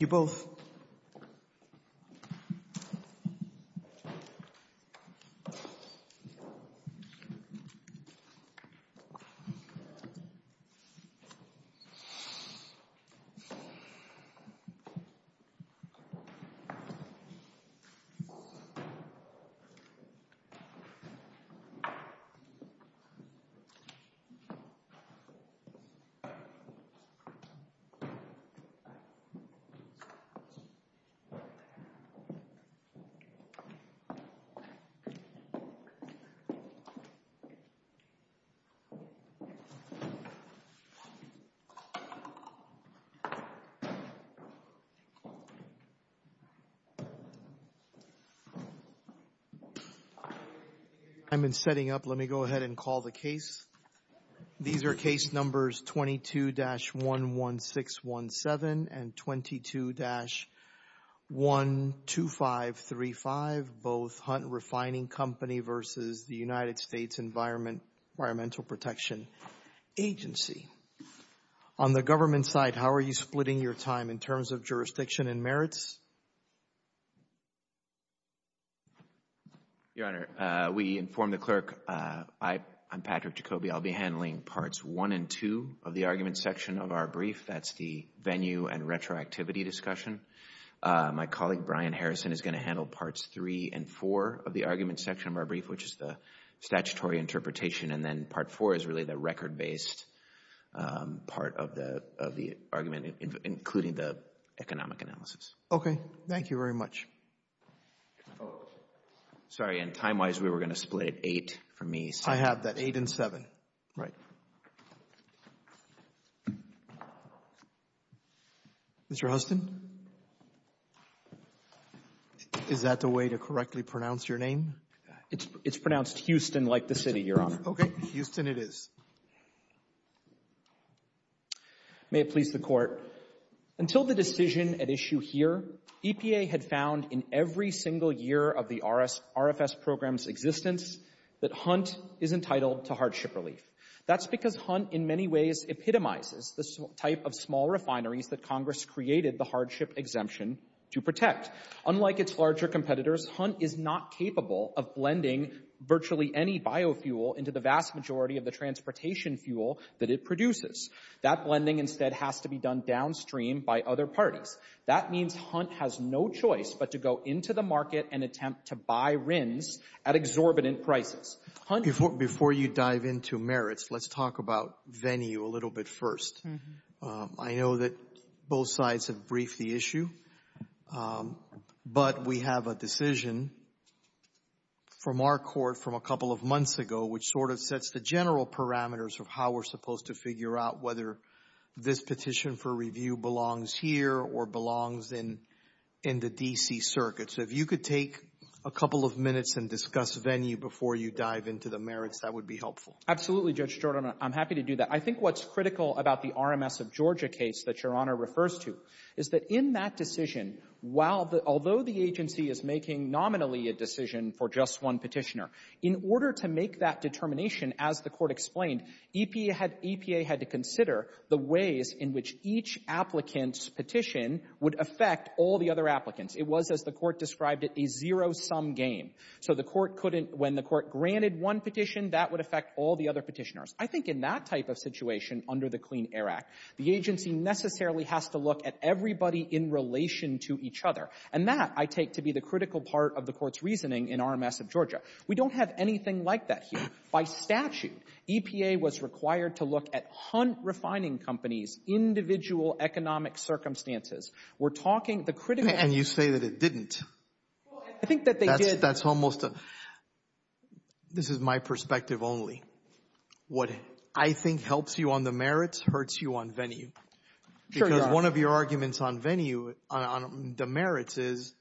Thank you both I Been setting up. Let me go ahead and call the case These are case numbers 22 dash 1 1 6 1 7 and 22 dash 1 2 5 3 5 both hunt refining company versus the United States environment environmental protection agency on The government side. How are you splitting your time in terms of jurisdiction and merits? Your Honor we inform the clerk. I I'm Patrick Jacoby I'll be handling parts one and two of the argument section of our brief. That's the venue and retroactivity discussion My colleague Brian Harrison is going to handle parts three and four of the argument section of our brief Which is the statutory interpretation and then part four is really the record based Part of the of the argument including the economic analysis. Okay. Thank you very much Sorry and time-wise we were gonna split eight for me so I have that eight and seven, right? Mr. Huston Is that the way to correctly pronounce your name it's it's pronounced Houston like the city you're on okay Houston it is May it please the court Until the decision at issue here EPA had found in every single year of the RS RFS programs existence That hunt is entitled to hardship relief That's because hunt in many ways epitomizes the type of small refineries that Congress created the hardship exemption to protect Unlike its larger competitors hunt is not capable of blending The vast majority of the transportation fuel that it produces that blending instead has to be done downstream by other parties That means hunt has no choice But to go into the market and attempt to buy RINs at exorbitant prices Hunt before you dive into merits. Let's talk about venue a little bit first I know that both sides have briefed the issue But we have a decision From our court from a couple of months ago which sort of sets the general parameters of how we're supposed to figure out whether This petition for review belongs here or belongs in in the DC Circuit So if you could take a couple of minutes and discuss venue before you dive into the merits, that would be helpful Absolutely judge Jordan. I'm happy to do that I think what's critical about the RMS of Georgia case that your honor refers to is that in that decision? While the although the agency is making nominally a decision for just one petitioner in order to make that determination As the court explained EPA had EPA had to consider the ways in which each Applicants petition would affect all the other applicants. It was as the court described it a zero-sum game So the court couldn't when the court granted one petition that would affect all the other petitioners I think in that type of situation under the Clean Air Act The agency necessarily has to look at everybody in Relation to each other and that I take to be the critical part of the court's reasoning in RMS of Georgia We don't have anything like that here by statute EPA was required to look at hunt refining companies Individual economic circumstances. We're talking the critic and you say that it didn't I think that they did that's almost a This is my perspective only What I think helps you on the merits hurts you on venue because one of your arguments on venue on the merits is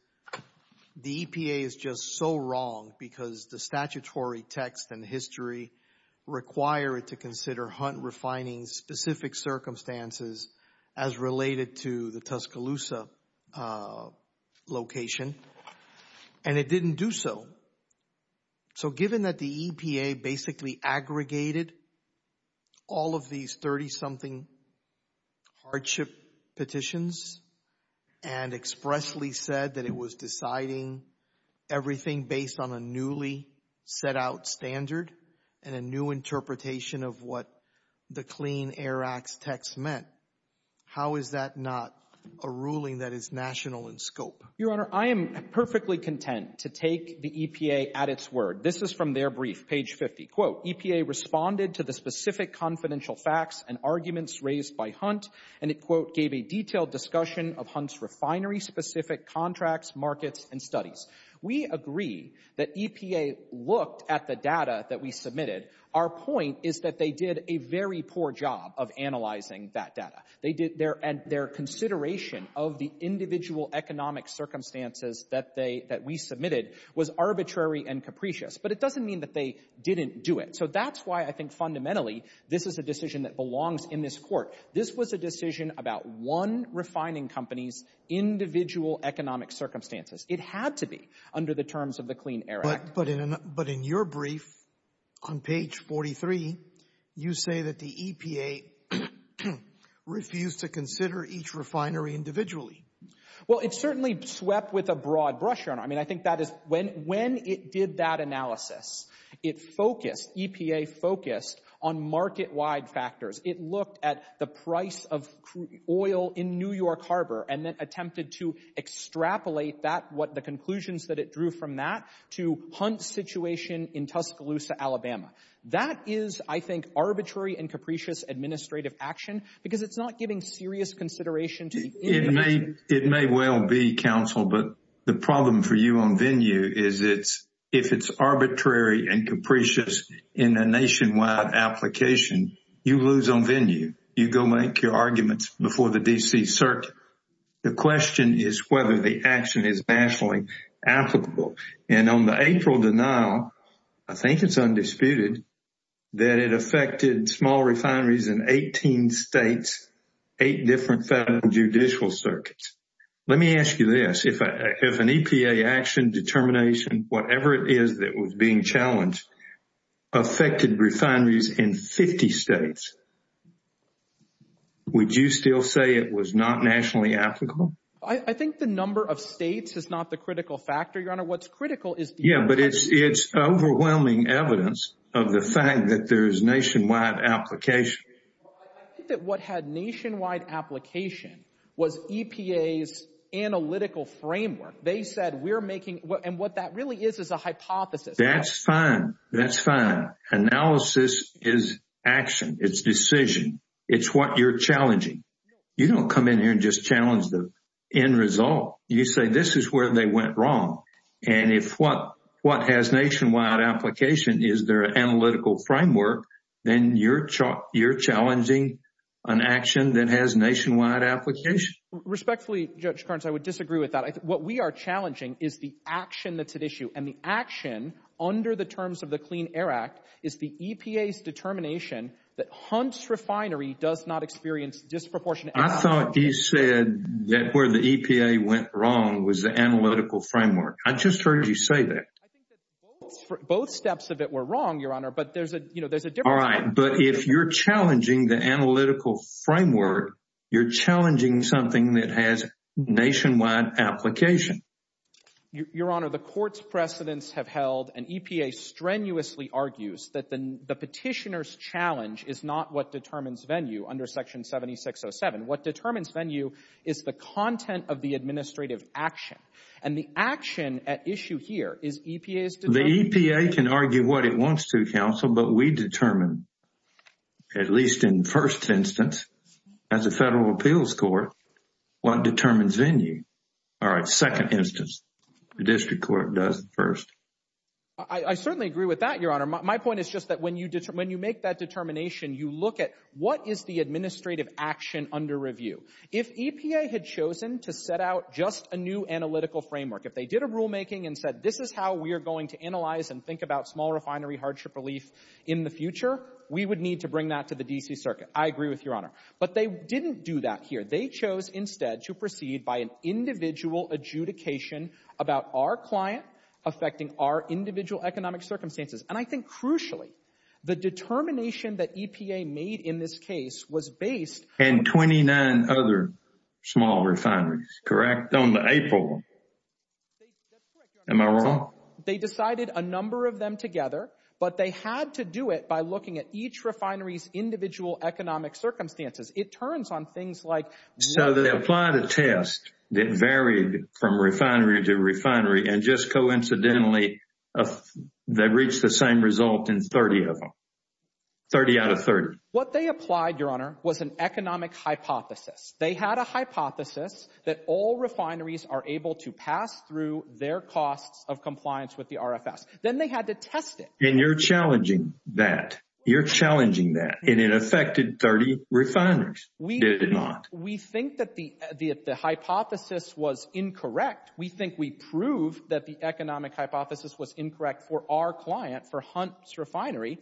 The EPA is just so wrong because the statutory text and history require it to consider hunt refining specific circumstances as related to the Tuscaloosa Location and it didn't do so So given that the EPA basically aggregated all of these 30-something hardship petitions and Expressly said that it was deciding Everything based on a newly set out standard and a new interpretation of what the Clean Air Act's text meant How is that not a ruling that is national in scope your honor? I am perfectly content to take the EPA at its word This is from their brief page 50 quote EPA Responded to the specific confidential facts and arguments raised by hunt and it quote gave a detailed discussion of hunts refinery specific contracts markets and studies We agree that EPA looked at the data that we submitted Our point is that they did a very poor job of analyzing that data They did their and their consideration of the individual economic circumstances that they that we submitted was arbitrary and capricious But it doesn't mean that they didn't do it. So that's why I think fundamentally. This is a decision that belongs in this court This was a decision about one refining companies Individual economic circumstances it had to be under the terms of the Clean Air Act, but in but in your brief on page 43 You say that the EPA? Refused to consider each refinery individually Well, it certainly swept with a broad brush on I mean, I think that is when when it did that analysis it Focused EPA focused on market wide factors it looked at the price of oil in New York Harbor and then attempted to Extrapolate that what the conclusions that it drew from that to hunt situation in Tuscaloosa, Alabama That is I think arbitrary and capricious administrative action because it's not giving serious consideration to me It may well be counsel But the problem for you on venue is it's if it's arbitrary and capricious in a nationwide Application you lose on venue you go make your arguments before the DC circuit The question is whether the action is nationally applicable and on the April denial I think it's undisputed That it affected small refineries in 18 states eight different federal judicial circuits Let me ask you this if I have an EPA action determination, whatever it is that was being challenged affected refineries in 50 states Would you still say it was not nationally applicable I think the number of states is not the critical factor your honor. What's critical is? Yeah, but it's it's overwhelming evidence of the fact that there's nationwide application That what had nationwide application was EPA's Analytical framework. They said we're making what and what that really is is a hypothesis. That's fine. That's fine Analysis is action. It's decision. It's what you're challenging You don't come in here and just challenge the end result you say this is where they went wrong And if what what has nationwide application, is there an analytical framework then your chalk? You're challenging an action that has nationwide application Respectfully judge currents. I would disagree with that I think what we are challenging is the action that's at issue and the action Under the terms of the Clean Air Act is the EPA's determination that hunts refinery does not experience disproportionate I thought you said that where the EPA went wrong was the analytical framework I just heard you say that Both steps of it were wrong your honor, but there's a you know, there's a different but if you're challenging the analytical framework You're challenging something that has nationwide application Your honor the court's precedents have held an EPA Strenuously argues that then the petitioners challenge is not what determines venue under section 17607 what determines venue is the content of the administrative action and the action at issue here is EPA's The EPA can argue what it wants to counsel, but we determine At least in first instance as a federal appeals court What determines venue? All right second instance the district court does first I? Certainly agree with that your honor My point is just that when you did when you make that determination you look at what is the administrative action under review if EPA? Had chosen to set out just a new analytical framework if they did a rulemaking and said this is how we are going to analyze And think about small refinery hardship relief in the future. We would need to bring that to the DC Circuit I agree with your honor, but they didn't do that here. They chose instead to proceed by an individual adjudication About our client affecting our individual economic circumstances And I think crucially the determination that EPA made in this case was based and 29 other small refineries correct on the April Am I wrong they decided a number of them together? But they had to do it by looking at each refineries individual economic circumstances It turns on things like so they applied a test that varied from refinery to refinery and just coincidentally They've reached the same result in 30 of them 30 out of 30 what they applied your honor was an economic hypothesis They had a hypothesis that all refineries are able to pass through their costs of compliance with the RFS Then they had to test it and you're challenging that you're challenging that and it affected 30 Refineries we did not we think that the the hypothesis was incorrect We think we prove that the economic hypothesis was incorrect for our client for hunts refinery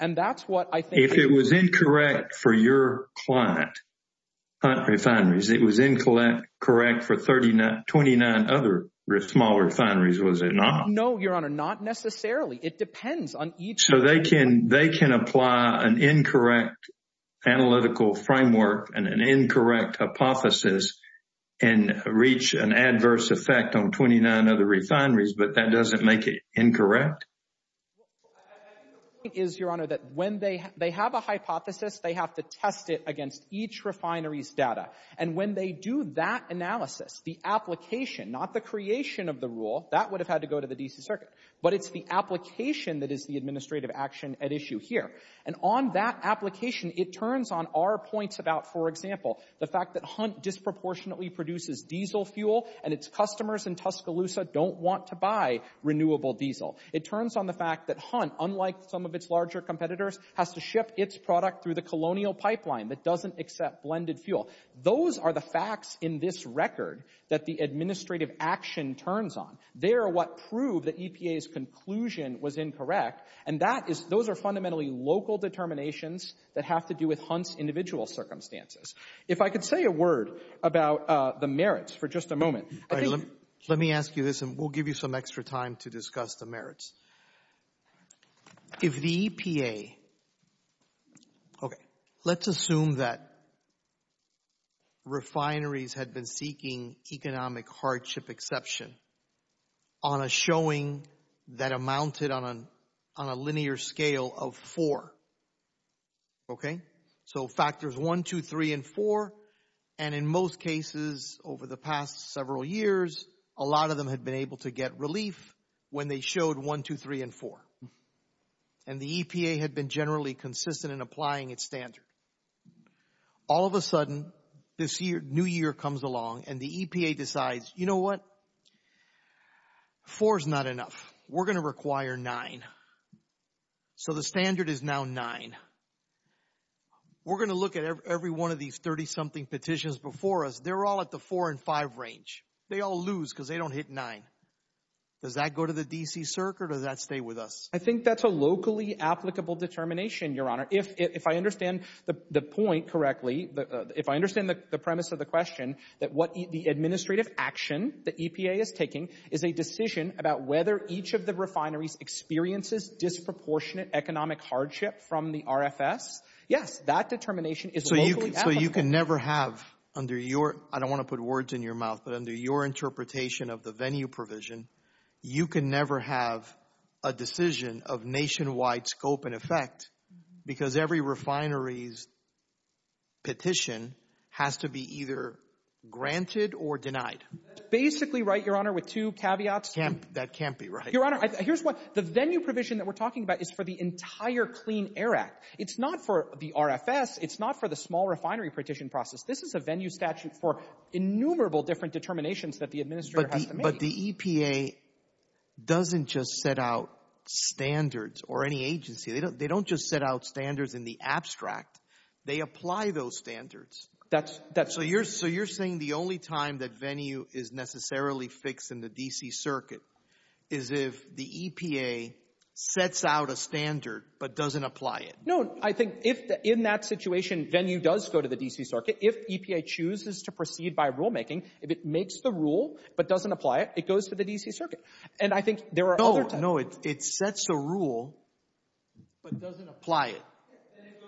And that's what I think it was incorrect for your client Hunt refineries it was incorrect correct for 39 29 other risk small refineries was it not no your honor not Necessarily it depends on each so they can they can apply an incorrect analytical framework and an incorrect hypothesis and Reach an adverse effect on 29 other refineries, but that doesn't make it incorrect Is your honor that when they they have a hypothesis they have to test it against each refineries data And when they do that analysis the application not the creation of the rule that would have had to go to the DC Circuit But it's the application that is the administrative action at issue here and on that application It turns on our points about for example the fact that hunt Disproportionately produces diesel fuel and its customers in Tuscaloosa don't want to buy Renewable diesel it turns on the fact that hunt unlike some of its larger competitors has to ship its product through the colonial Pipeline that doesn't accept blended fuel those are the facts in this record that the administrative action Turns on they are what proved that EPA's conclusion was incorrect And that is those are fundamentally local determinations that have to do with hunts individual circumstances if I could say a word About the merits for just a moment let me ask you this and we'll give you some extra time to discuss the merits If the EPA Okay, let's assume that Refineries had been seeking economic hardship exception on a Showing that amounted on an on a linear scale of four Okay, so factors one two three and four and in most cases over the past several years a lot of them Had been able to get relief when they showed one two three and four and the EPA had been generally consistent in applying its standard All of a sudden this year new year comes along and the EPA decides you know what Four is not enough we're gonna require nine So the standard is now nine We're gonna look at every one of these 30-something petitions before us They're all at the four and five range they all lose because they don't hit nine Does that go to the DC circuit or that stay with us? I think that's a locally applicable determination your honor if I understand the the point correctly If I understand the premise of the question that what the administrative action the EPA is taking is a decision about whether each of the refineries Experiences disproportionate economic hardship from the RFS. Yes that determination is so you can never have Under your I don't want to put words in your mouth, but under your interpretation of the venue provision You can never have a decision of nationwide scope and effect because every refineries Petition has to be either Granted or denied basically right your honor with two caveats camp that can't be right your honor Here's what the venue provision that we're talking about is for the entire Clean Air Act. It's not for the RFS It's not for the small refinery petition process. This is a venue statute for Innumerable different determinations that the administrator, but the EPA Doesn't just set out Standards or any agency they don't they don't just set out standards in the abstract they apply those standards That's that so you're so you're saying the only time that venue is necessarily fixed in the DC circuit is if the EPA Sets out a standard, but doesn't apply it I think if in that situation venue does go to the DC circuit if EPA chooses to proceed by rulemaking if it makes the rule But doesn't apply it it goes to the DC circuit, and I think there are no no it sets a rule Apply it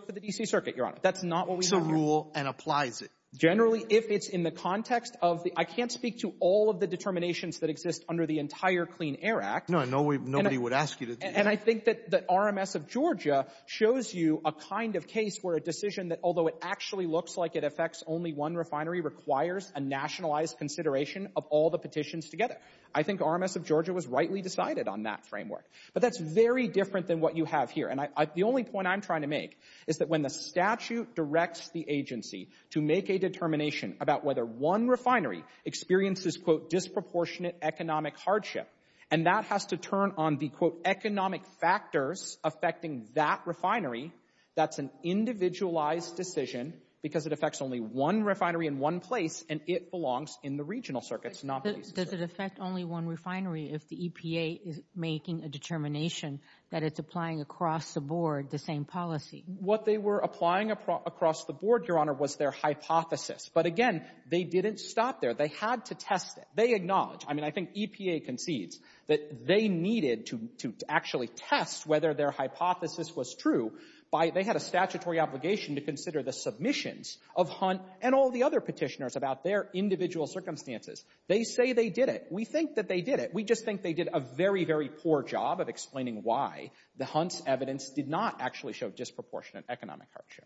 For the DC circuit your honor. That's not what we rule and applies it generally if it's in the context of the I can't speak To all of the determinations that exist under the entire Clean Air Act no Nobody would ask you to and I think that the RMS of Georgia Shows you a kind of case where a decision that although it actually looks like it affects only one refinery requires a nationalized Consideration of all the petitions together. I think RMS of Georgia was rightly decided on that framework But that's very different than what you have here And I the only point I'm trying to make is that when the statute directs the agency to make a determination about whether one refinery Experiences quote disproportionate economic hardship and that has to turn on the quote economic factors affecting that refinery That's an individualized decision because it affects only one refinery in one place And it belongs in the regional circuits not does it affect only one refinery if the EPA is making a determination That it's applying across the board the same policy what they were applying across the board your honor was their hypothesis But again, they didn't stop there. They had to test it. They acknowledge I mean, I think EPA concedes that they needed to actually test whether their hypothesis was true By they had a statutory obligation to consider the submissions of hunt and all the other petitioners about their individual circumstances They say they did it. We think that they did it We just think they did a very very poor job of explaining why the hunts evidence did not actually show disproportionate economic hardship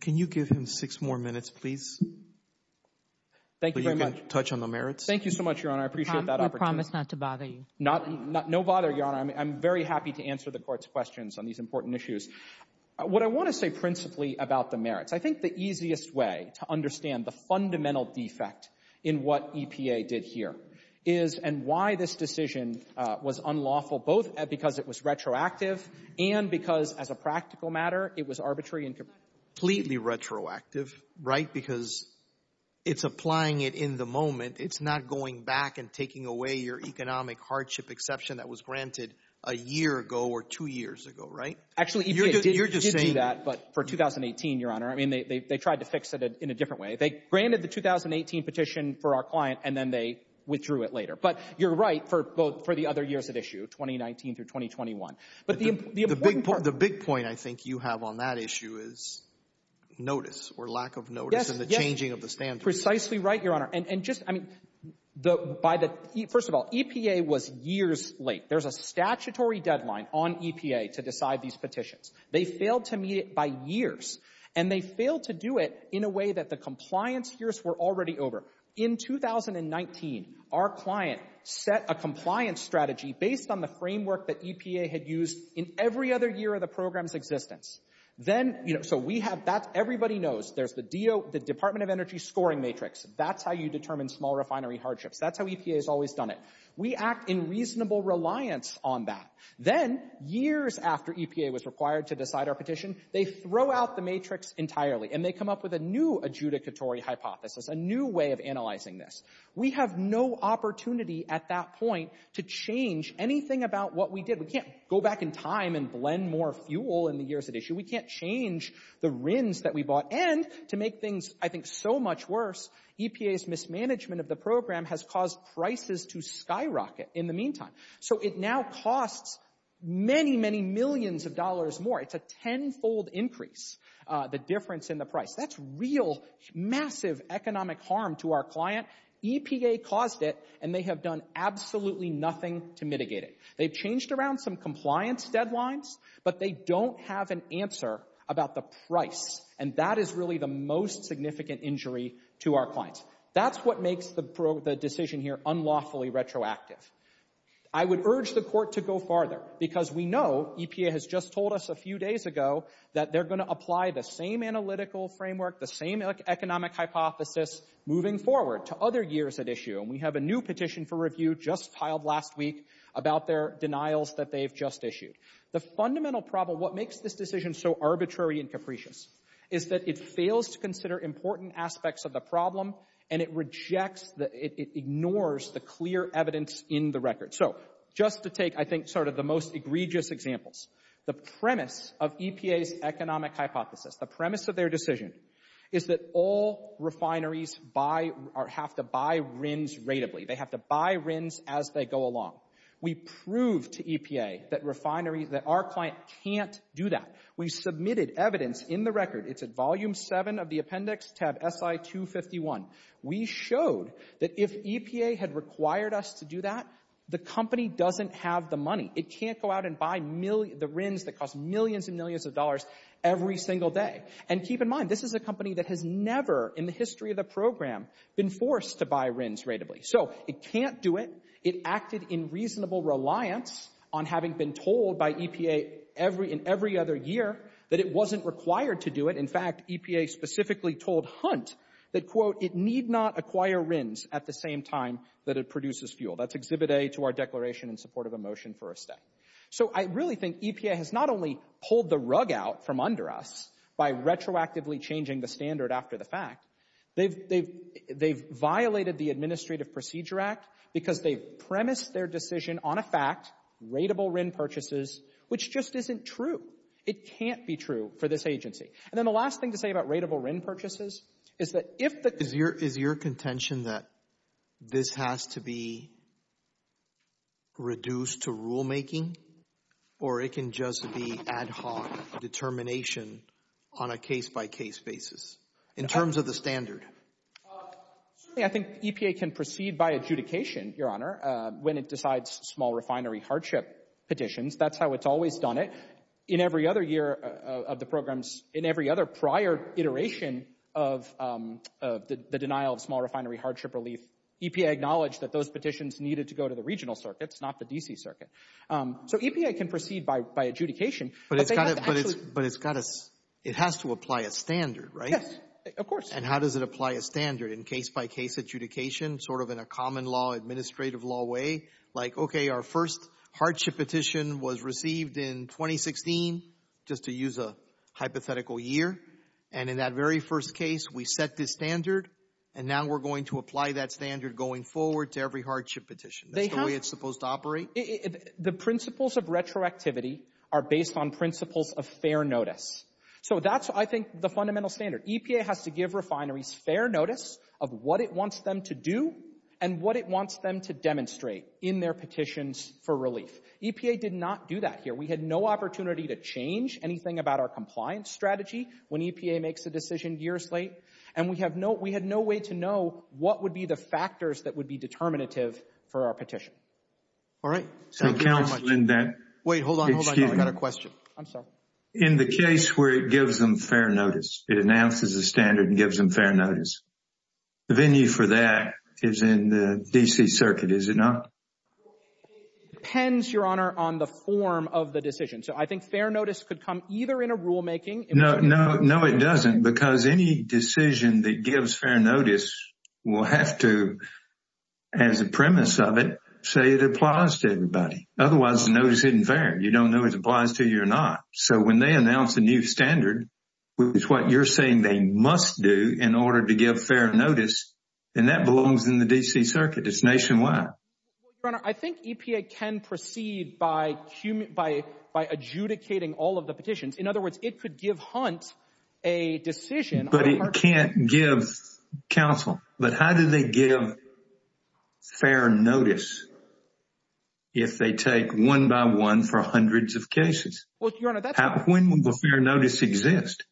Can you give him six more minutes, please Thank you very much touch on the merits, thank you so much your honor I appreciate that I promise not to bother you not no bother your honor I'm very happy to answer the court's questions on these important issues What I want to say principally about the merits I think the easiest way to understand the fundamental defect in what EPA did here is And why this decision was unlawful both because it was retroactive and because as a practical matter it was arbitrary and completely retroactive right because It's applying it in the moment It's not going back and taking away your economic hardship exception that was granted a year ago or two years ago, right? Actually, you're just saying that but for 2018 your honor. I mean they tried to fix it in a different way They granted the 2018 petition for our client and then they withdrew it later But you're right for both for the other years at issue 2019 through 2021 But the big point the big point I think you have on that issue is Notice or lack of notice and the changing of the stand precisely right your honor and and just I mean The by the first of all EPA was years late There's a statutory deadline on EPA to decide these petitions They failed to meet it by years and they failed to do it in a way that the compliance years were already over in 2019 our client set a compliance strategy based on the framework that EPA had used in every other year of the program's existence Then you know, so we have that everybody knows there's the deal the Department of Energy scoring matrix That's how you determine small refinery hardships. That's how EPA has always done it We act in reasonable reliance on that then years after EPA was required to decide our petition They throw out the matrix entirely and they come up with a new adjudicatory hypothesis a new way of analyzing this we have no Opportunity at that point to change anything about what we did We can't go back in time and blend more fuel in the years at issue We can't change the RINs that we bought and to make things I think so much worse EPA's mismanagement of the program has caused prices to skyrocket in the meantime, so it now costs Many many millions of dollars more it's a tenfold increase the difference in the price. That's real Massive economic harm to our client EPA caused it and they have done absolutely nothing to mitigate it They've changed around some compliance deadlines But they don't have an answer about the price and that is really the most significant injury to our clients That's what makes the decision here unlawfully retroactive. I Because we know EPA has just told us a few days ago that they're going to apply the same analytical framework the same economic Hypothesis moving forward to other years at issue and we have a new petition for review just piled last week About their denials that they've just issued the fundamental problem What makes this decision so arbitrary and capricious is that it fails to consider important aspects of the problem and it rejects that it Ignores the clear evidence in the record so just to take I think sort of the most egregious examples the premise of EPA's economic hypothesis the premise of their decision is That all refineries buy or have to buy RINs rateably They have to buy RINs as they go along we prove to EPA that refineries that our client can't do that We submitted evidence in the record. It's at volume 7 of the appendix tab si 251 We showed that if EPA had required us to do that the company doesn't have the money It can't go out and buy million the RINs that cost millions and millions of dollars every single day and keep in mind This is a company that has never in the history of the program been forced to buy RINs rateably So it can't do it it acted in reasonable reliance on having been told by EPA Every in every other year that it wasn't required to do it In fact EPA specifically told hunt that quote it need not acquire RINs at the same time that it produces fuel That's exhibit a to our declaration in support of a motion for a stay So I really think EPA has not only pulled the rug out from under us by retroactively changing the standard after the fact They've they've they've violated the Administrative Procedure Act because they premised their decision on a fact Rateable RIN purchases, which just isn't true It can't be true for this agency and then the last thing to say about rateable RIN purchases Is that if that is your is your contention that? this has to be Reduced to rulemaking or it can just be ad hoc Determination on a case-by-case basis in terms of the standard Yeah, I think EPA can proceed by adjudication your honor when it decides small refinery hardship petitions That's how it's always done it in every other year of the programs in every other prior iteration of The denial of small refinery hardship relief EPA acknowledged that those petitions needed to go to the regional circuits not the DC Circuit So EPA can proceed by adjudication, but it's got it, but it's but it's got us it has to apply a standard, right? Of course, and how does it apply a standard in case-by-case adjudication sort of in a common law administrative law way like okay? Our first hardship petition was received in 2016 just to use a hypothetical year and in that very first case We set this standard and now we're going to apply that standard going forward to every hardship petition That's the way it's supposed to operate if the principles of retroactivity are based on principles of fair notice So that's I think the fundamental standard EPA has to give refineries fair notice of what it wants them to do and What it wants them to demonstrate in their petitions for relief EPA did not do that here We had no opportunity to change anything about our compliance strategy when EPA makes a decision years late And we have no we had no way to know what would be the factors that would be determinative for our petition All right, so counseling then wait hold on got a question In the case where it gives them fair notice it announces a standard and gives them fair notice The venue for that is in the DC Circuit is it not? Depends your honor on the form of the decision, so I think fair notice could come either in a rulemaking no No, no it doesn't because any decision that gives fair notice will have to As a premise of it say it applies to everybody otherwise the notice isn't fair You don't know it applies to you or not so when they announce a new standard It's what you're saying. They must do in order to give fair notice and that belongs in the DC Circuit. It's nationwide I think EPA can proceed by by by adjudicating all of the petitions in other words it could give hunt a Decision, but it can't give Counsel, but how do they give? fair notice If they take one by one for hundreds of cases When will the fair notice exist?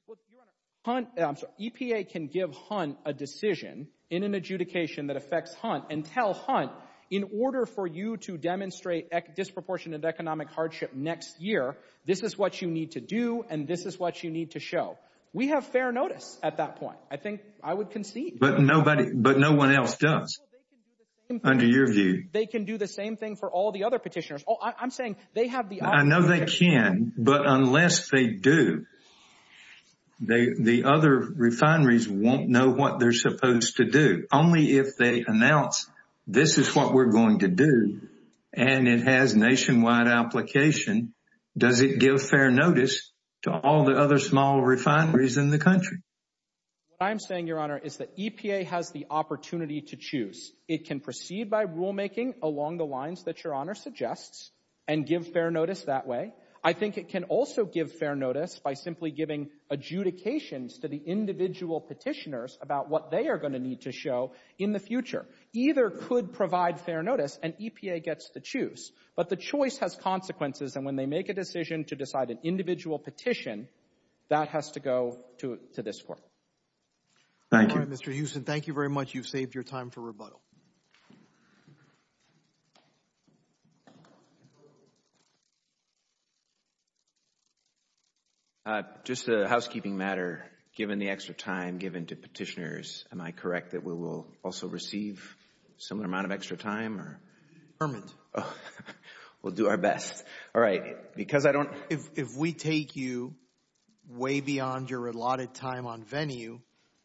Hunt EPA can give hunt a decision in an adjudication that affects hunt and tell hunt in order for you to Demonstrate disproportionate economic hardship next year this is what you need to do And this is what you need to show we have fair notice at that point I think I would concede, but nobody but no one else does Under your view they can do the same thing for all the other petitioners Oh, I'm saying they have the I know they can but unless they do They the other refineries won't know what they're supposed to do only if they announce This is what we're going to do and it has nationwide application Does it give fair notice to all the other small refineries in the country? I'm saying your honor is that EPA has the opportunity to choose it can proceed by rulemaking along the lines that your honor Suggests and give fair notice that way I think it can also give fair notice by simply giving adjudications to the Individual petitioners about what they are going to need to show in the future either could provide fair notice and EPA gets to choose But the choice has consequences and when they make a decision to decide an individual petition That has to go to this court. Thank you. Mr. Huston. Thank you very much. You've saved your time for rebuttal Just a housekeeping matter given the extra time given to petitioners am I correct that we will also receive similar amount of extra time or We'll do our best. All right, because I don't if we take you Way beyond your allotted time on venue,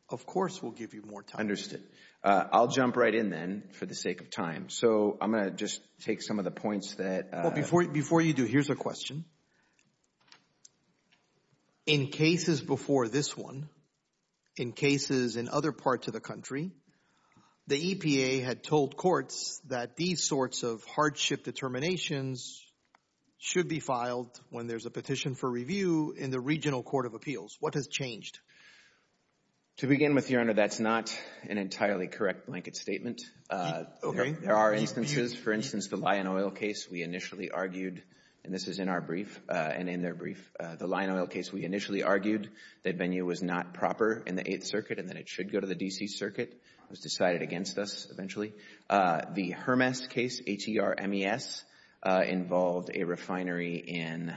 of course, we'll give you more time understood I'll jump right in then for the sake of time So I'm gonna just take some of the points that well before you before you do. Here's a question in cases before this one in cases in other parts of the country The EPA had told courts that these sorts of hardship determinations Should be filed when there's a petition for review in the regional Court of Appeals. What has changed? To begin with your honor. That's not an entirely correct blanket statement Okay, there are instances for instance the lion oil case We initially argued and this is in our brief and in their brief the lion oil case We initially argued that venue was not proper in the 8th Circuit and then it should go to the DC Circuit It was decided against us eventually the Hermes case H-E-R-M-E-S involved a refinery in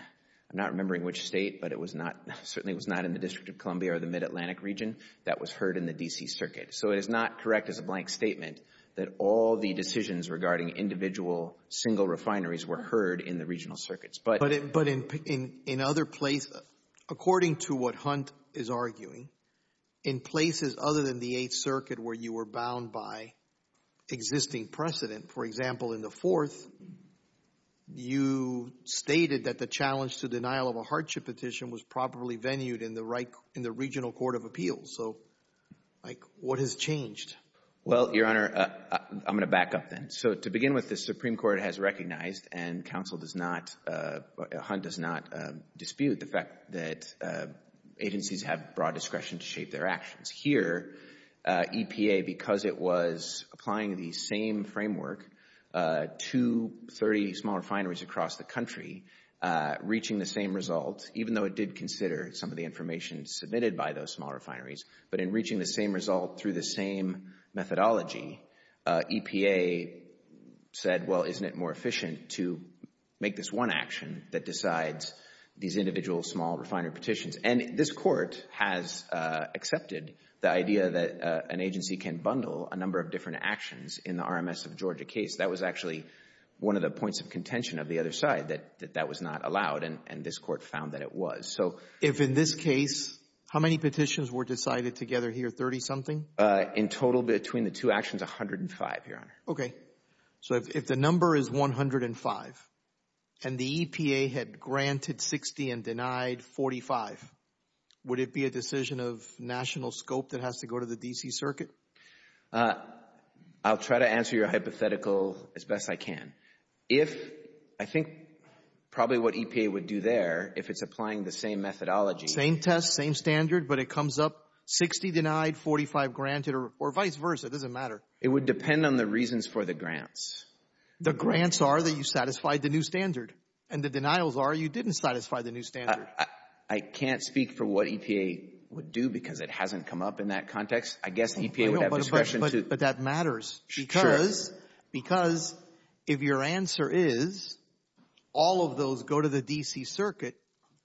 I'm not remembering which state but it was not Certainly was not in the District of Columbia or the Mid-Atlantic region that was heard in the DC Circuit So it is not correct as a blank statement that all the decisions regarding individual Single refineries were heard in the regional circuits, but it but in in in other places According to what Hunt is arguing in places other than the 8th Circuit where you were bound by existing precedent for example in the fourth you Stated that the challenge to denial of a hardship petition was properly venued in the right in the regional Court of Appeals. So Like what has changed? Well your honor I'm gonna back up then so to begin with the Supreme Court has recognized and counsel does not Hunt does not dispute the fact that Agencies have broad discretion to shape their actions here EPA because it was applying the same framework to 30 small refineries across the country Reaching the same result even though it did consider some of the information submitted by those small refineries But in reaching the same result through the same methodology EPA Said well, isn't it more efficient to make this one action that decides these individual small refiner petitions? and this court has Accepted the idea that an agency can bundle a number of different actions in the RMS of Georgia case That was actually One of the points of contention of the other side that that was not allowed and and this court found that it was so if in This case how many petitions were decided together here 30 something in total between the two actions 105 your honor Okay, so if the number is 105 and the EPA had granted 60 and denied 45 Would it be a decision of national scope that has to go to the DC Circuit? I'll try to answer your hypothetical as best I can if I think Probably what EPA would do there if it's applying the same methodology same test same standard But it comes up 60 denied 45 granted or vice versa doesn't matter It would depend on the reasons for the grants The grants are that you satisfied the new standard and the denials are you didn't satisfy the new standard? I can't speak for what EPA would do because it hasn't come up in that context I guess the EPA would have discretion to but that matters because because if your answer is All of those go to the DC Circuit.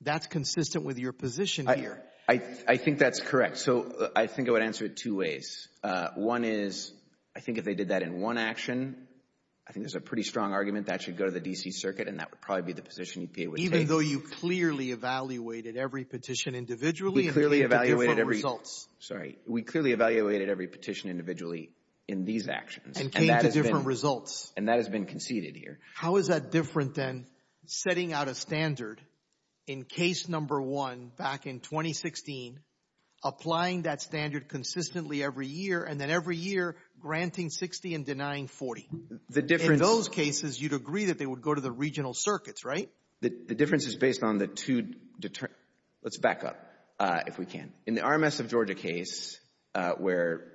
That's consistent with your position here. I I think that's correct So I think I would answer it two ways One is I think if they did that in one action I think there's a pretty strong argument that should go to the DC Circuit and that would probably be the position you pay with even Though you clearly evaluated every petition individually clearly evaluated every results Sorry, we clearly evaluated every petition individually in these actions and came to different results and that has been conceded here How is that different than setting out a standard in case number one back in 2016? Applying that standard consistently every year and then every year granting 60 and denying 40 The difference those cases you'd agree that they would go to the regional circuits, right? The difference is based on the two deter let's back up if we can in the RMS of Georgia case where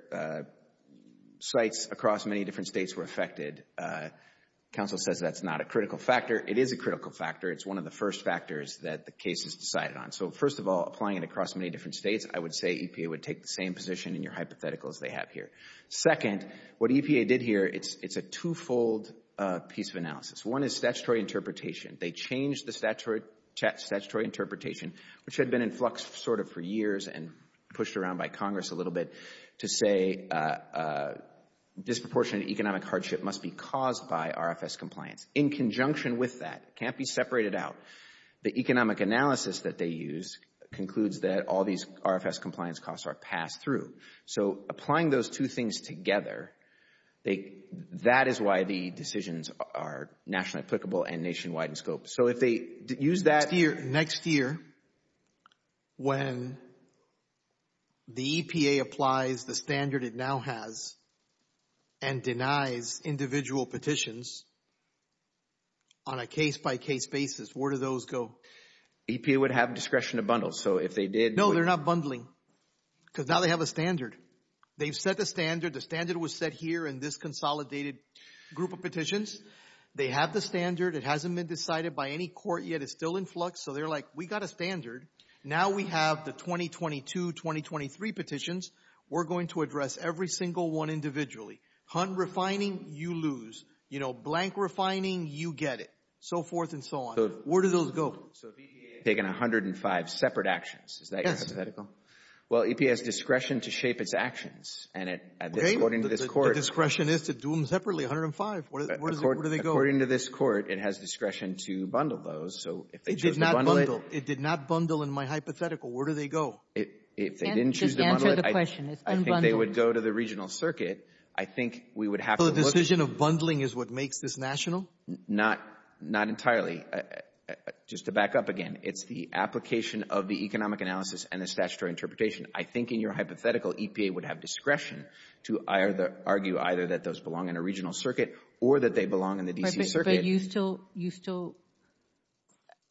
Sites across many different states were affected Council says that's not a critical factor. It is a critical factor It's one of the first factors that the case is decided on So first of all applying it across many different states I would say EPA would take the same position in your hypothetical as they have here second what EPA did here It's it's a twofold piece of analysis. One is statutory interpretation They changed the statutory statutory interpretation, which had been in flux sort of for years and pushed around by Congress a little bit to say Disproportionate economic hardship must be caused by RFS compliance in conjunction with that can't be separated out The economic analysis that they use concludes that all these RFS compliance costs are passed through so applying those two things together They that is why the decisions are nationally applicable and nationwide in scope. So if they use that here next year when The EPA applies the standard it now has and denies individual petitions On a case-by-case basis, where do those go? EPA would have discretion to bundle. So if they did know they're not bundling Because now they have a standard they've set the standard the standard was set here in this consolidated group of petitions They have the standard it hasn't been decided by any court yet. It's still in flux So they're like we got a standard now. We have the 2022 2023 petitions We're going to address every single one individually hunt refining you lose, you know blank refining you get it So forth and so on where do those go? Taking a hundred and five separate actions. Is that hypothetical? Well EPA has discretion to shape its actions and it according to this court discretion is to do them separately 105 According to this court, it has discretion to bundle those. So if they did not bundle it did not bundle in my hypothetical Where do they go it if they didn't choose? They would go to the regional circuit. I think we would have a decision of bundling is what makes this national not not entirely Just to back up again. It's the application of the economic analysis and the statutory interpretation I think in your hypothetical EPA would have discretion to either argue either that those belong in a regional circuit or That they belong in the DC circuit you still you still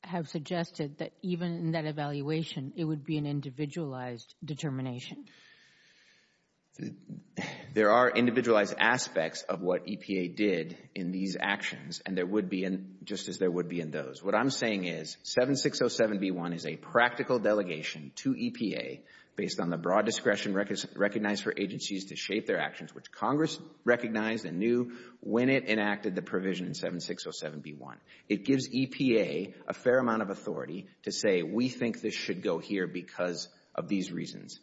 Have suggested that even in that evaluation it would be an individualized determination There are individualized aspects of what EPA did in these actions and there would be in just as there would be in those what I'm Saying is 7 6 0 7 b 1 is a practical delegation to EPA Based on the broad discretion records recognized for agencies to shape their actions Which Congress recognized and knew when it enacted the provision in 7 6 0 7 b 1 it gives EPA a fair amount of authority To say we think this should go here because of these reasons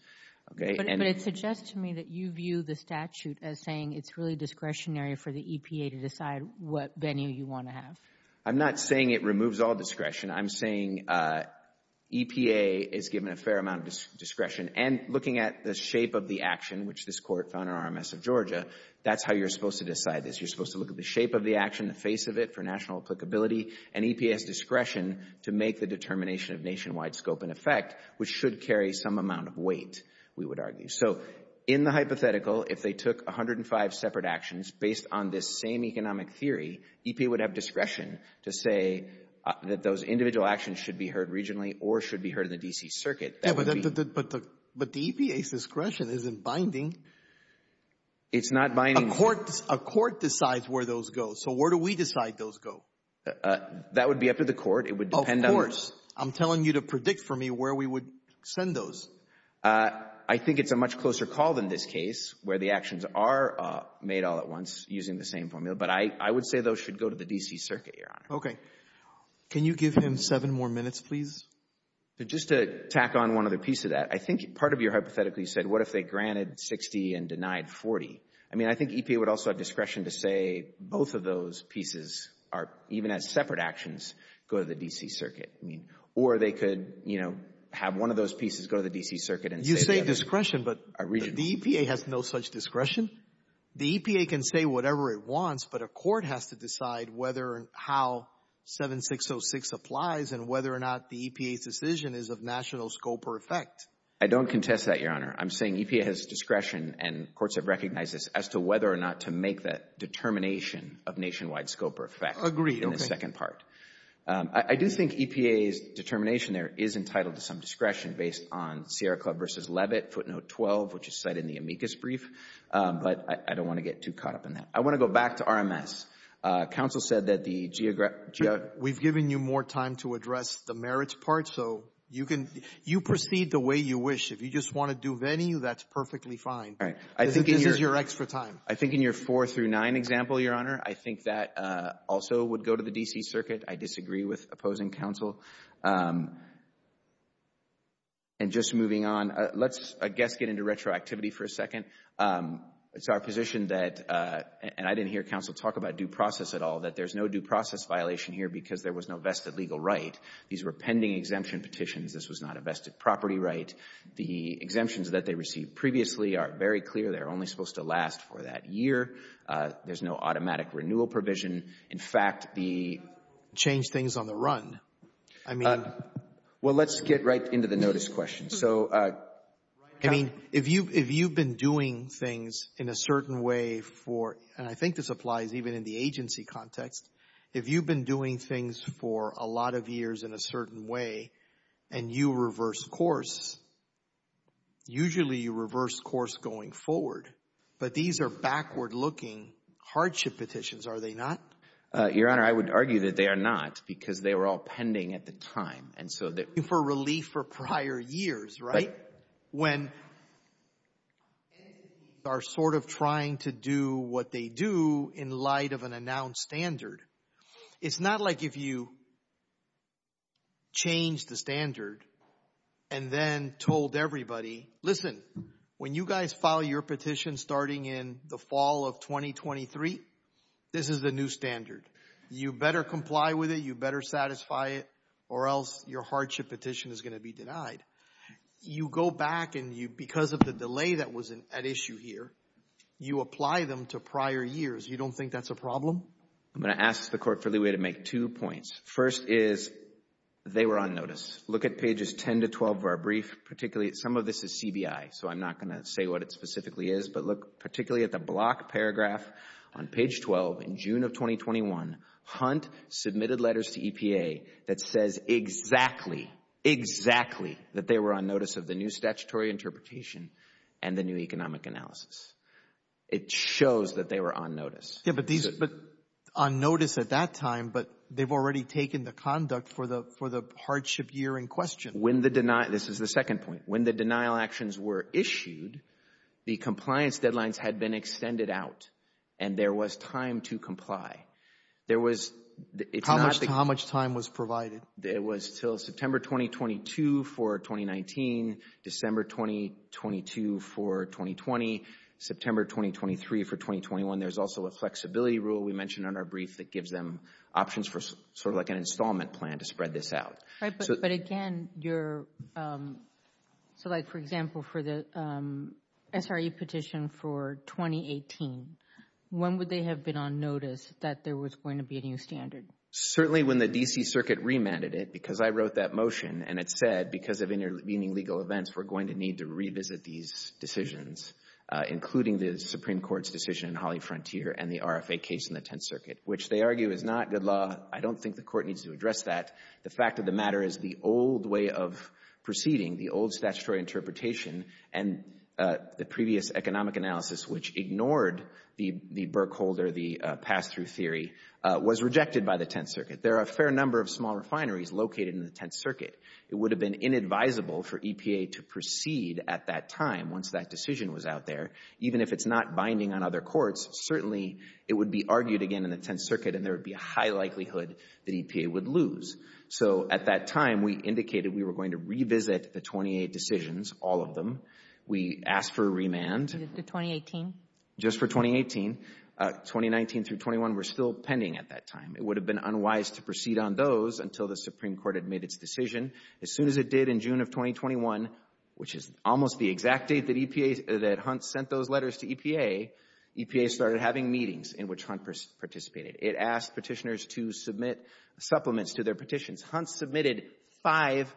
Okay And it suggests to me that you view the statute as saying it's really discretionary for the EPA to decide what venue you want To have I'm not saying it removes all discretion. I'm saying EPA is given a fair amount of Discretion and looking at the shape of the action which this court found in RMS of Georgia That's how you're supposed to decide this You're supposed to look at the shape of the action the face of it for national applicability and EPA has discretion To make the determination of nationwide scope and effect which should carry some amount of weight We would argue so in the hypothetical if they took 105 separate actions based on this same economic theory EPA would have discretion to say That those individual actions should be heard regionally or should be heard in the DC circuit But the but the EPA's discretion isn't binding It's not buying a court a court decides where those go. So where do we decide those go? That would be up to the court. It would depend on worse. I'm telling you to predict for me where we would send those I think it's a much closer call than this case where the actions are Made all at once using the same formula, but I I would say those should go to the DC Circuit. You're on. Okay Can you give him seven more minutes, please? Just to tack on one other piece of that I think part of your hypothetically said what if they granted 60 and denied 40? I mean, I think EPA would also have discretion to say both of those pieces are even as separate actions go to the DC Circuit I mean or they could you know have one of those pieces go to the DC Circuit and you say discretion But I read the EPA has no such discretion The EPA can say whatever it wants, but a court has to decide whether and how 7606 applies and whether or not the EPA's decision is of national scope or effect. I don't contest that your honor I'm saying EPA has discretion and courts have recognized this as to whether or not to make that Determination of nationwide scope or effect agree in the second part I do think EPA's determination There is entitled to some discretion based on Sierra Club versus Levitt footnote 12, which is set in the amicus brief But I don't want to get too caught up in that. I want to go back to RMS Council said that the We've given you more time to address the merits part So you can you proceed the way you wish if you just want to do venue, that's perfectly fine All right. I think this is your extra time. I think in your four through nine example, your honor I think that also would go to the DC Circuit. I disagree with opposing counsel and Just moving on let's I guess get into retroactivity for a second It's our position that And I didn't hear counsel talk about due process at all that there's no due process Violation here because there was no vested legal right. These were pending exemption petitions. This was not a vested property, right? The exemptions that they received previously are very clear. They're only supposed to last for that year there's no automatic renewal provision, in fact the Change things on the run. I mean, well, let's get right into the notice question. So I mean if you if you've been doing things in a certain way for and I think this applies even in the agency context If you've been doing things for a lot of years in a certain way And you reverse course Usually you reverse course going forward, but these are backward looking Hardship petitions are they not? Your honor I would argue that they are not because they were all pending at the time And so that for relief for prior years, right? when Are sort of trying to do what they do in light of an announced standard. It's not like if you Change the standard and Then told everybody listen when you guys file your petition starting in the fall of 2023 This is the new standard you better comply with it. You better satisfy it or else your hardship petition is going to be denied You go back and you because of the delay that was an issue here you apply them to prior years You don't think that's a problem. I'm going to ask the court for the way to make two points first is They were on notice look at pages 10 to 12 of our brief particularly at some of this is CBI So I'm not gonna say what it specifically is But look particularly at the block paragraph on page 12 in June of 2021 Hunt submitted letters to EPA that says exactly That they were on notice of the new statutory interpretation and the new economic analysis It shows that they were on notice Yeah but these but on notice at that time but they've already taken the conduct for the for the Hardship year in question when the deny this is the second point when the denial actions were issued The compliance deadlines had been extended out and there was time to comply There was it's how much time was provided there was till September 2022 for 2019 December 2022 for 2020 September 2023 for 2021. There's also a flexibility rule We mentioned on our brief that gives them options for sort of like an installment plan to spread this out right, but again, you're so like for example for the SRE petition for 2018 When would they have been on notice that there was going to be a new standard? Certainly when the DC Circuit remanded it because I wrote that motion and it said because of inner meaning legal events We're going to need to revisit these decisions Including the Supreme Court's decision in Holly frontier and the RFA case in the Tenth Circuit, which they argue is not good law I don't think the court needs to address that the fact of the matter is the old way of proceeding the old statutory interpretation and The previous economic analysis which ignored the the Burke holder the pass-through theory was rejected by the Tenth Circuit There are a fair number of small refineries located in the Tenth Circuit It would have been inadvisable for EPA to proceed at that time Once that decision was out there Even if it's not binding on other courts Certainly, it would be argued again in the Tenth Circuit and there would be a high likelihood that EPA would lose So at that time we indicated we were going to revisit the 28 decisions all of them We asked for a remand 2018 just for 2018 2019 through 21. We're still pending at that time It would have been unwise to proceed on those until the Supreme Court had made its decision as soon as it did in June of 2021 which is almost the exact date that EPA that hunt sent those letters to EPA EPA started having meetings in which hunt participated it asked petitioners to submit supplements to their petitions hunts submitted five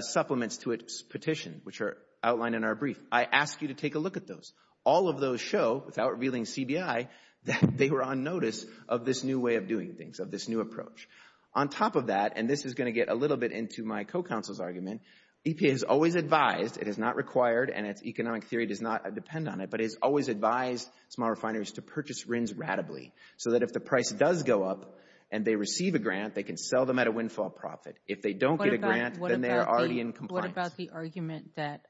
Supplements to its petition which are outlined in our brief I asked you to take a look at those all of those show without revealing CBI That they were on notice of this new way of doing things of this new approach on Top of that and this is going to get a little bit into my co-counsel's argument EPA has always advised it is not required and its economic theory does not depend on it But it's always advised small refineries to purchase RINs Radically so that if the price does go up and they receive a grant they can sell them at a windfall profit if they don't They are already in compliance the argument that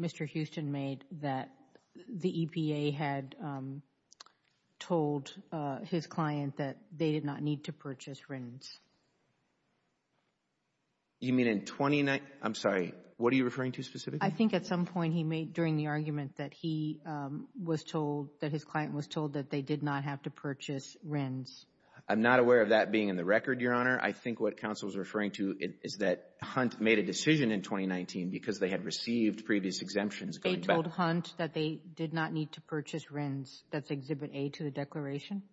Mr. Houston made that the EPA had Told his client that they did not need to purchase RINs You mean in 29, I'm sorry, what are you referring to specifically? I think at some point he made during the argument that he Was told that his client was told that they did not have to purchase RINs. I'm not aware of that being in the record Is that hunt made a decision in 2019 because they had received previous exemptions They told hunt that they did not need to purchase RINs. That's exhibit a to the declaration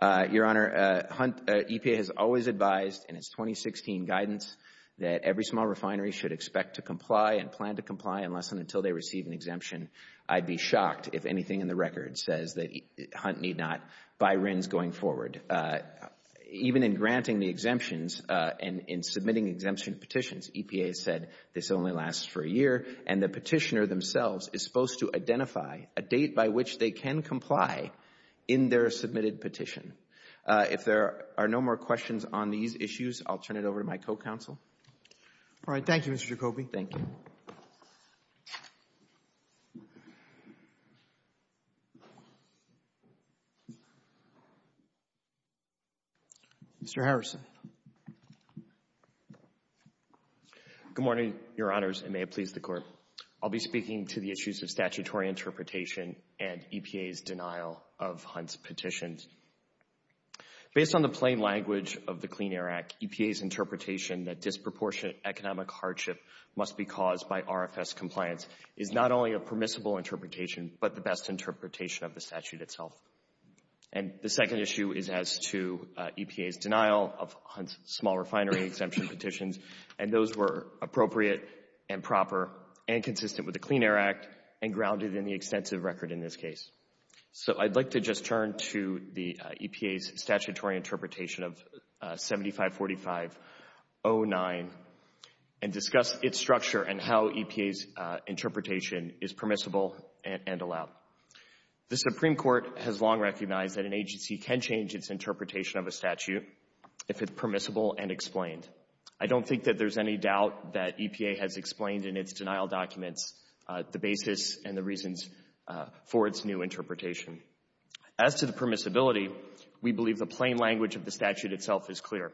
Your honor hunt EPA has always advised and it's 2016 guidance That every small refinery should expect to comply and plan to comply unless and until they receive an exemption I'd be shocked if anything in the record says that hunt need not buy RINs going forward Even in granting the exemptions and in submitting exemption petitions EPA said this only lasts for a year and the petitioner themselves is supposed to identify a date by which they can comply in Their submitted petition if there are no more questions on these issues. I'll turn it over to my co-counsel All right. Thank You. Mr. Jacoby. Thank you Mr. Harrison Good morning, your honors and may it please the court I'll be speaking to the issues of statutory interpretation and EPA's denial of hunts petitions based on the plain language of the Clean Air Act EPA's Interpretation that disproportionate economic hardship must be caused by RFS compliance is not only a permissible interpretation but the best interpretation of the statute itself and The second issue is as to EPA's denial of small refinery exemption petitions And those were appropriate and proper and consistent with the Clean Air Act and grounded in the extensive record in this case so I'd like to just turn to the EPA's statutory interpretation of 7545-09 and discuss its structure and how EPA's Interpretation is permissible and allowed The Supreme Court has long recognized that an agency can change its interpretation of a statute if it's permissible and explained I don't think that there's any doubt that EPA has explained in its denial documents the basis and the reasons For its new interpretation as to the permissibility. We believe the plain language of the statute itself is clear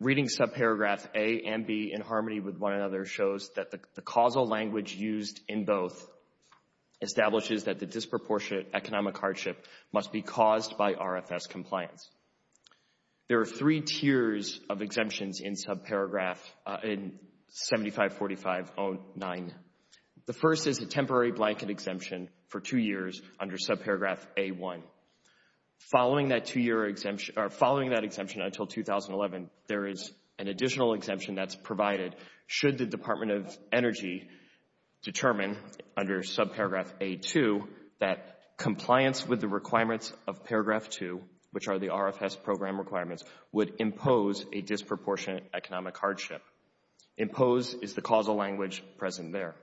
Reading subparagraph a and B in harmony with one another shows that the causal language used in both Establishes that the disproportionate economic hardship must be caused by RFS compliance There are three tiers of exemptions in subparagraph in 7545-09. The first is a temporary blanket exemption for two years under subparagraph a1 Following that two-year exemption or following that exemption until 2011. There is an additional exemption that's provided should the Department of Energy Determine under subparagraph a2 that Compliance with the requirements of paragraph 2 which are the RFS program requirements would impose a disproportionate economic hardship Impose is the causal language present there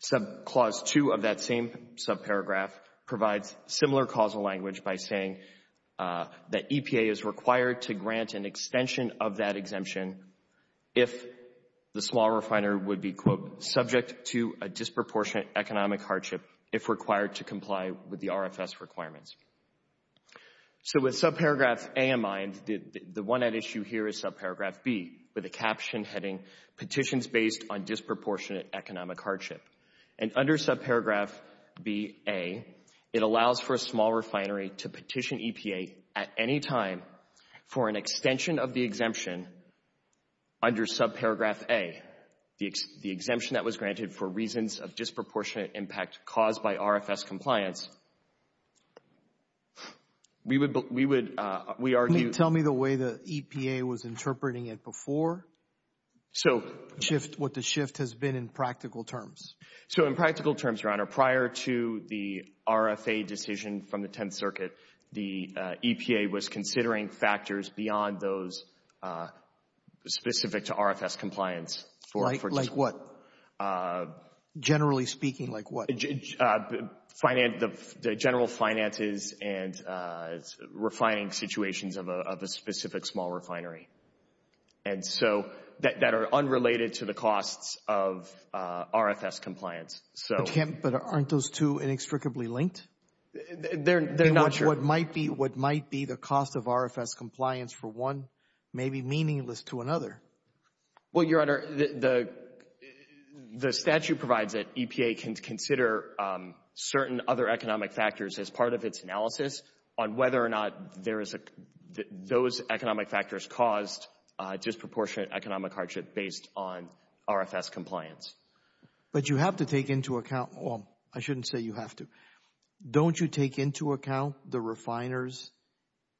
Sub clause 2 of that same subparagraph provides similar causal language by saying that EPA is required to grant an extension of that exemption if The small refinery would be quote subject to a disproportionate economic hardship if required to comply with the RFS requirements So with subparagraph a in mind the one at issue here is subparagraph B with a caption heading petitions based on disproportionate economic hardship and under subparagraph B a It allows for a small refinery to petition EPA at any time for an extension of the exemption Under subparagraph a the exemption that was granted for reasons of disproportionate impact caused by RFS compliance We would we would we argue tell me the way the EPA was interpreting it before So shift what the shift has been in practical terms so in practical terms your honor prior to the RFA decision from the Tenth Circuit the EPA was considering factors beyond those Specific to RFS compliance for like what? Generally speaking like what? finance the general finances and refining situations of a specific small refinery and so that are unrelated to the costs of RFS compliance so can't but aren't those two inextricably linked They're they're not sure what might be what might be the cost of RFS compliance for one may be meaningless to another well your honor the the statute provides that EPA can consider Certain other economic factors as part of its analysis on whether or not there is a those economic factors caused disproportionate economic hardship based on RFS compliance But you have to take into account well, I shouldn't say you have to don't you take into account the refiners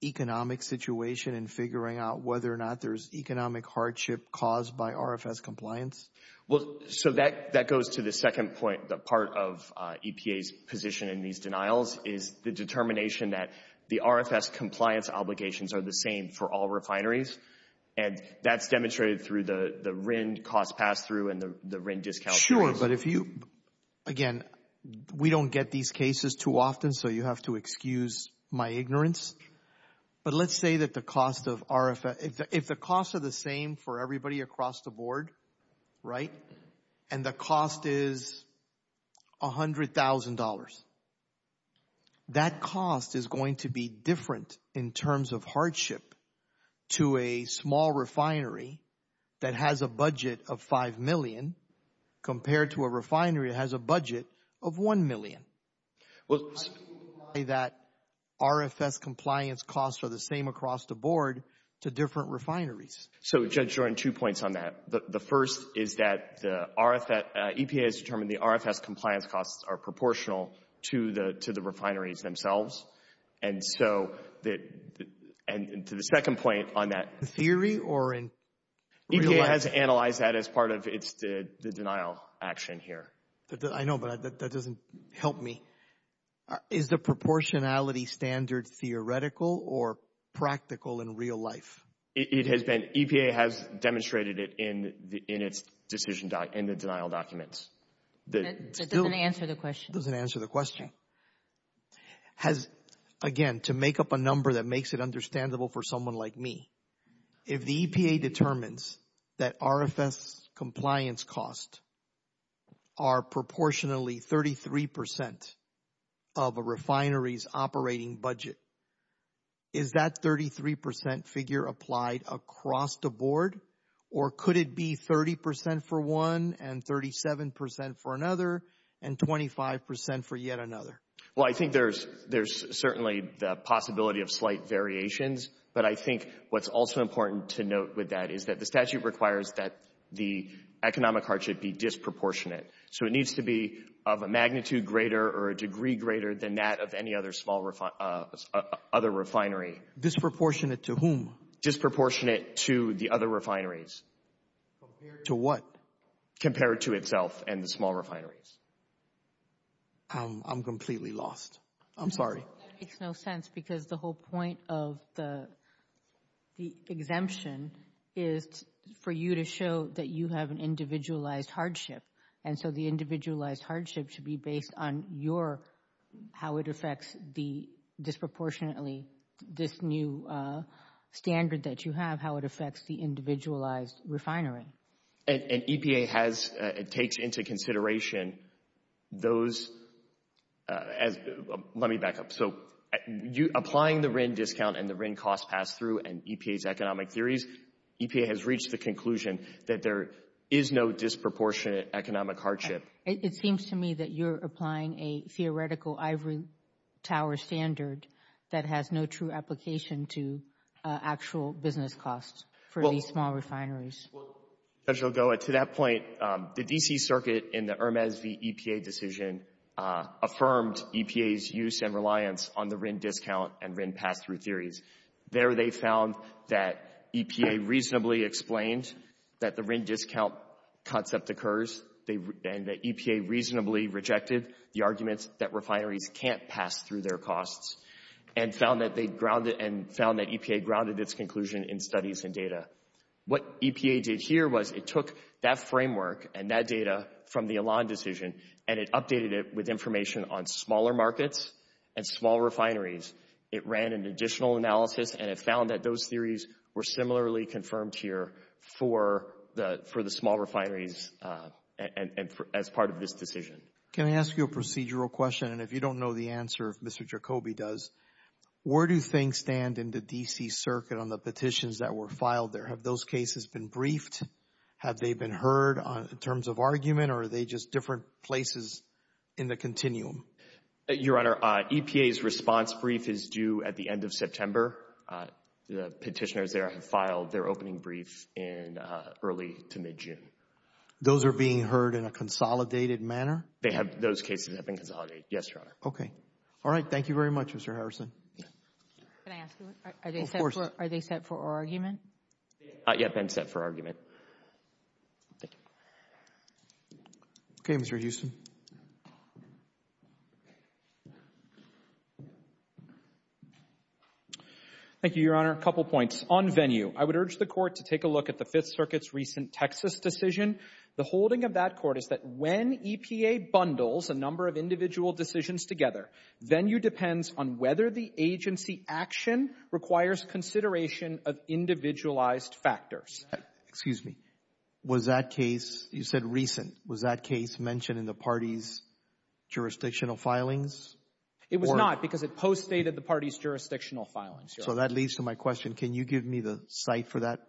Economic situation and figuring out whether or not there's economic hardship caused by RFS compliance Well, so that that goes to the second point the part of EPA's position in these denials is the determination that the RFS compliance obligations are the same for all refineries and That's demonstrated through the the RIN cost pass-through and the RIN discount. Sure, but if you Again, we don't get these cases too often. So you have to excuse my ignorance but let's say that the cost of RFS if the costs are the same for everybody across the board, right and the cost is $100,000 That cost is going to be different in terms of hardship To a small refinery that has a budget of $5,000,000 Compared to a refinery that has a budget of $1,000,000 well that RFS compliance costs are the same across the board to different refineries So Judge Jordan two points on that The first is that the RFS EPA has determined the RFS compliance costs are proportional to the to the refineries themselves and so that And to the second point on that theory or in EPA has analyzed that as part of its did the denial action here. I know but that doesn't help me is the proportionality standard theoretical or Practical in real life. It has been EPA has demonstrated it in the in its decision doc in the denial documents The answer the question doesn't answer the question Has Again to make up a number that makes it understandable for someone like me if the EPA determines that RFS compliance costs are proportionally 33% of a refineries operating budget is that 33% figure applied across the board or could it be 30% for one and 37% for another and 25% for yet another well, I think there's there's certainly the possibility of slight variations but I think what's also important to note with that is that the statute requires that the Economic hardship be disproportionate So it needs to be of a magnitude greater or a degree greater than that of any other small Other refinery disproportionate to whom disproportionate to the other refineries To what compared to itself and the small refineries I'm completely lost. I'm sorry. It's no sense because the whole point of the the exemption is For you to show that you have an individualized hardship. And so the individualized hardship should be based on your how it affects the disproportionately this new Standard that you have how it affects the individualized refinery and EPA has it takes into consideration those as let me back up so You applying the RIN discount and the RIN cost pass-through and EPA's economic theories EPA has reached the conclusion that there is no disproportionate economic hardship It seems to me that you're applying a theoretical ivory tower standard that has no true application to Actual business costs for these small refineries Judge Ogoa, to that point the DC Circuit in the Hermes v. EPA decision Affirmed EPA's use and reliance on the RIN discount and RIN pass-through theories there They found that EPA reasonably explained that the RIN discount concept occurs they and the EPA reasonably rejected the arguments that refineries can't pass through their costs and Found that they grounded and found that EPA grounded its conclusion in studies and data What EPA did here was it took that framework and that data from the Elan decision and it updated it with information on smaller markets and small refineries It ran an additional analysis and it found that those theories were similarly confirmed here for the for the small refineries And as part of this decision, can I ask you a procedural question? And if you don't know the answer if mr. Kobe does Where do things stand in the DC Circuit on the petitions that were filed there? Have those cases been briefed? Have they been heard on in terms of argument or are they just different places in the continuum? Your honor EPA's response brief is due at the end of September The petitioners there have filed their opening brief in early to mid-june Those are being heard in a consolidated manner. They have those cases have been consolidated. Yes, your honor. Okay. All right Thank you very much. Mr. Harrison Are they set for argument not yet been set for argument Okay, mr. Houston Thank you, your honor a couple points on venue I would urge the court to take a look at the Fifth Circuit's recent Texas decision The holding of that court is that when EPA bundles a number of individual decisions together Venue depends on whether the agency action requires consideration of individualized factors Excuse me. Was that case you said recent was that case mentioned in the party's? jurisdictional filings It was not because it post dated the party's jurisdictional filings. So that leads to my question. Can you give me the site for that?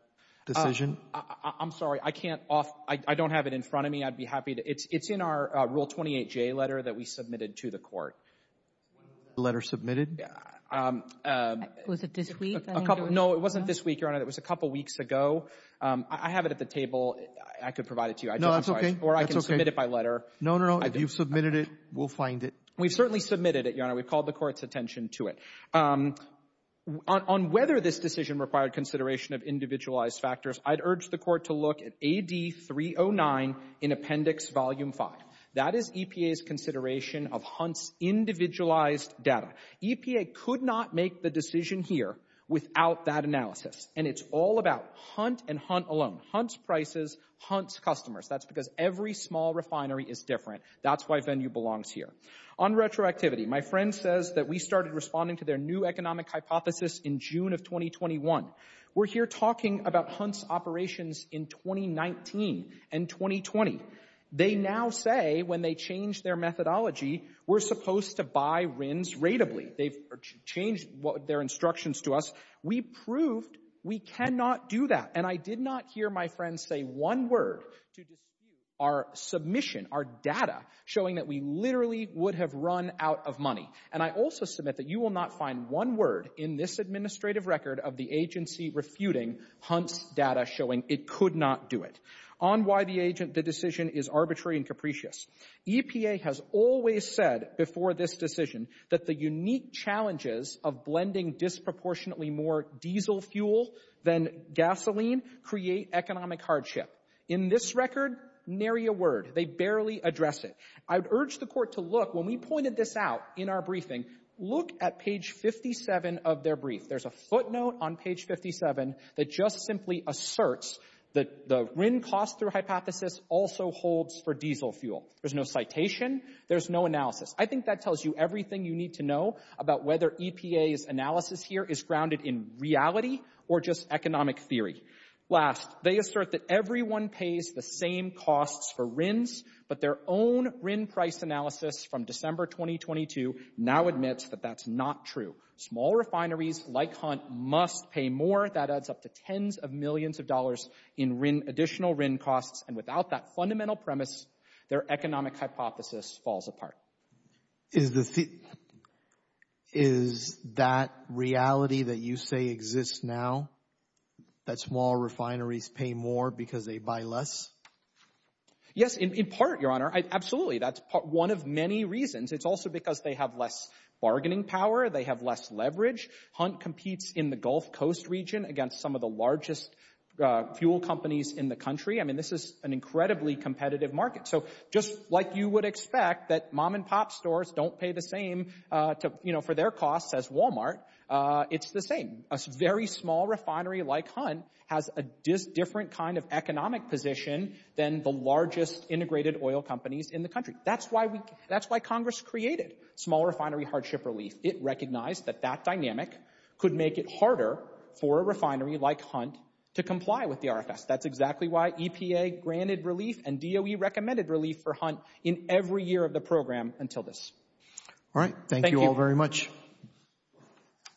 Decision, I'm sorry. I can't off. I don't have it in front of me I'd be happy to it's it's in our rule 28 J letter that we submitted to the court letter submitted No, it wasn't this week your honor that was a couple weeks ago I have it at the table I could provide it to you I know that's okay, or I can submit it by letter. No, no, no, you've submitted it. We'll find it We've certainly submitted it your honor. We've called the court's attention to it On whether this decision required consideration of individualized factors. I'd urge the court to look at ad 2309 in appendix volume 5 that is EPA's consideration of hunts Individualized data EPA could not make the decision here without that analysis And it's all about hunt and hunt alone hunts prices hunts customers. That's because every small refinery is different That's why venue belongs here on retroactivity. My friend says that we started responding to their new economic hypothesis in June of 2021 We're here talking about hunts operations in 2019 and 2020 they now say when they change their methodology We're supposed to buy RINs rateably they've changed what their instructions to us We proved we cannot do that and I did not hear my friends say one word to dispute our Submission our data showing that we literally would have run out of money And I also submit that you will not find one word in this administrative record of the agency refuting Hunts data showing it could not do it on why the agent the decision is arbitrary and capricious EPA has always said before this decision that the unique challenges of blending disproportionately more diesel fuel than Gasoline create economic hardship in this record nary a word. They barely address it I would urge the court to look when we pointed this out in our briefing look at page 57 of their brief There's a footnote on page 57 that just simply asserts that the RIN cost through hypothesis also holds for diesel fuel There's no citation. There's no analysis I think that tells you everything you need to know about whether EPA's analysis here is grounded in reality or just economic theory Last they assert that everyone pays the same costs for RINs But their own RIN price analysis from December 2022 now admits that that's not true Small refineries like hunt must pay more that adds up to tens of millions of dollars in RIN additional RIN costs and without that Fundamental premise their economic hypothesis falls apart is the Is that reality that you say exists now that small refineries pay more because they buy less Yes in part your honor. Absolutely. That's part one of many reasons. It's also because they have less bargaining power They have less leverage hunt competes in the Gulf Coast region against some of the largest Fuel companies in the country. I mean, this is an incredibly competitive market So just like you would expect that mom-and-pop stores don't pay the same to you know for their costs as Walmart It's the same a very small refinery like hunt has a different kind of economic position Than the largest integrated oil companies in the country. That's why we that's why Congress created small refinery hardship relief It recognized that that dynamic could make it harder for a refinery like hunt to comply with the RFS That's exactly why EPA granted relief and DOE recommended relief for hunt in every year of the program until this All right. Thank you all very much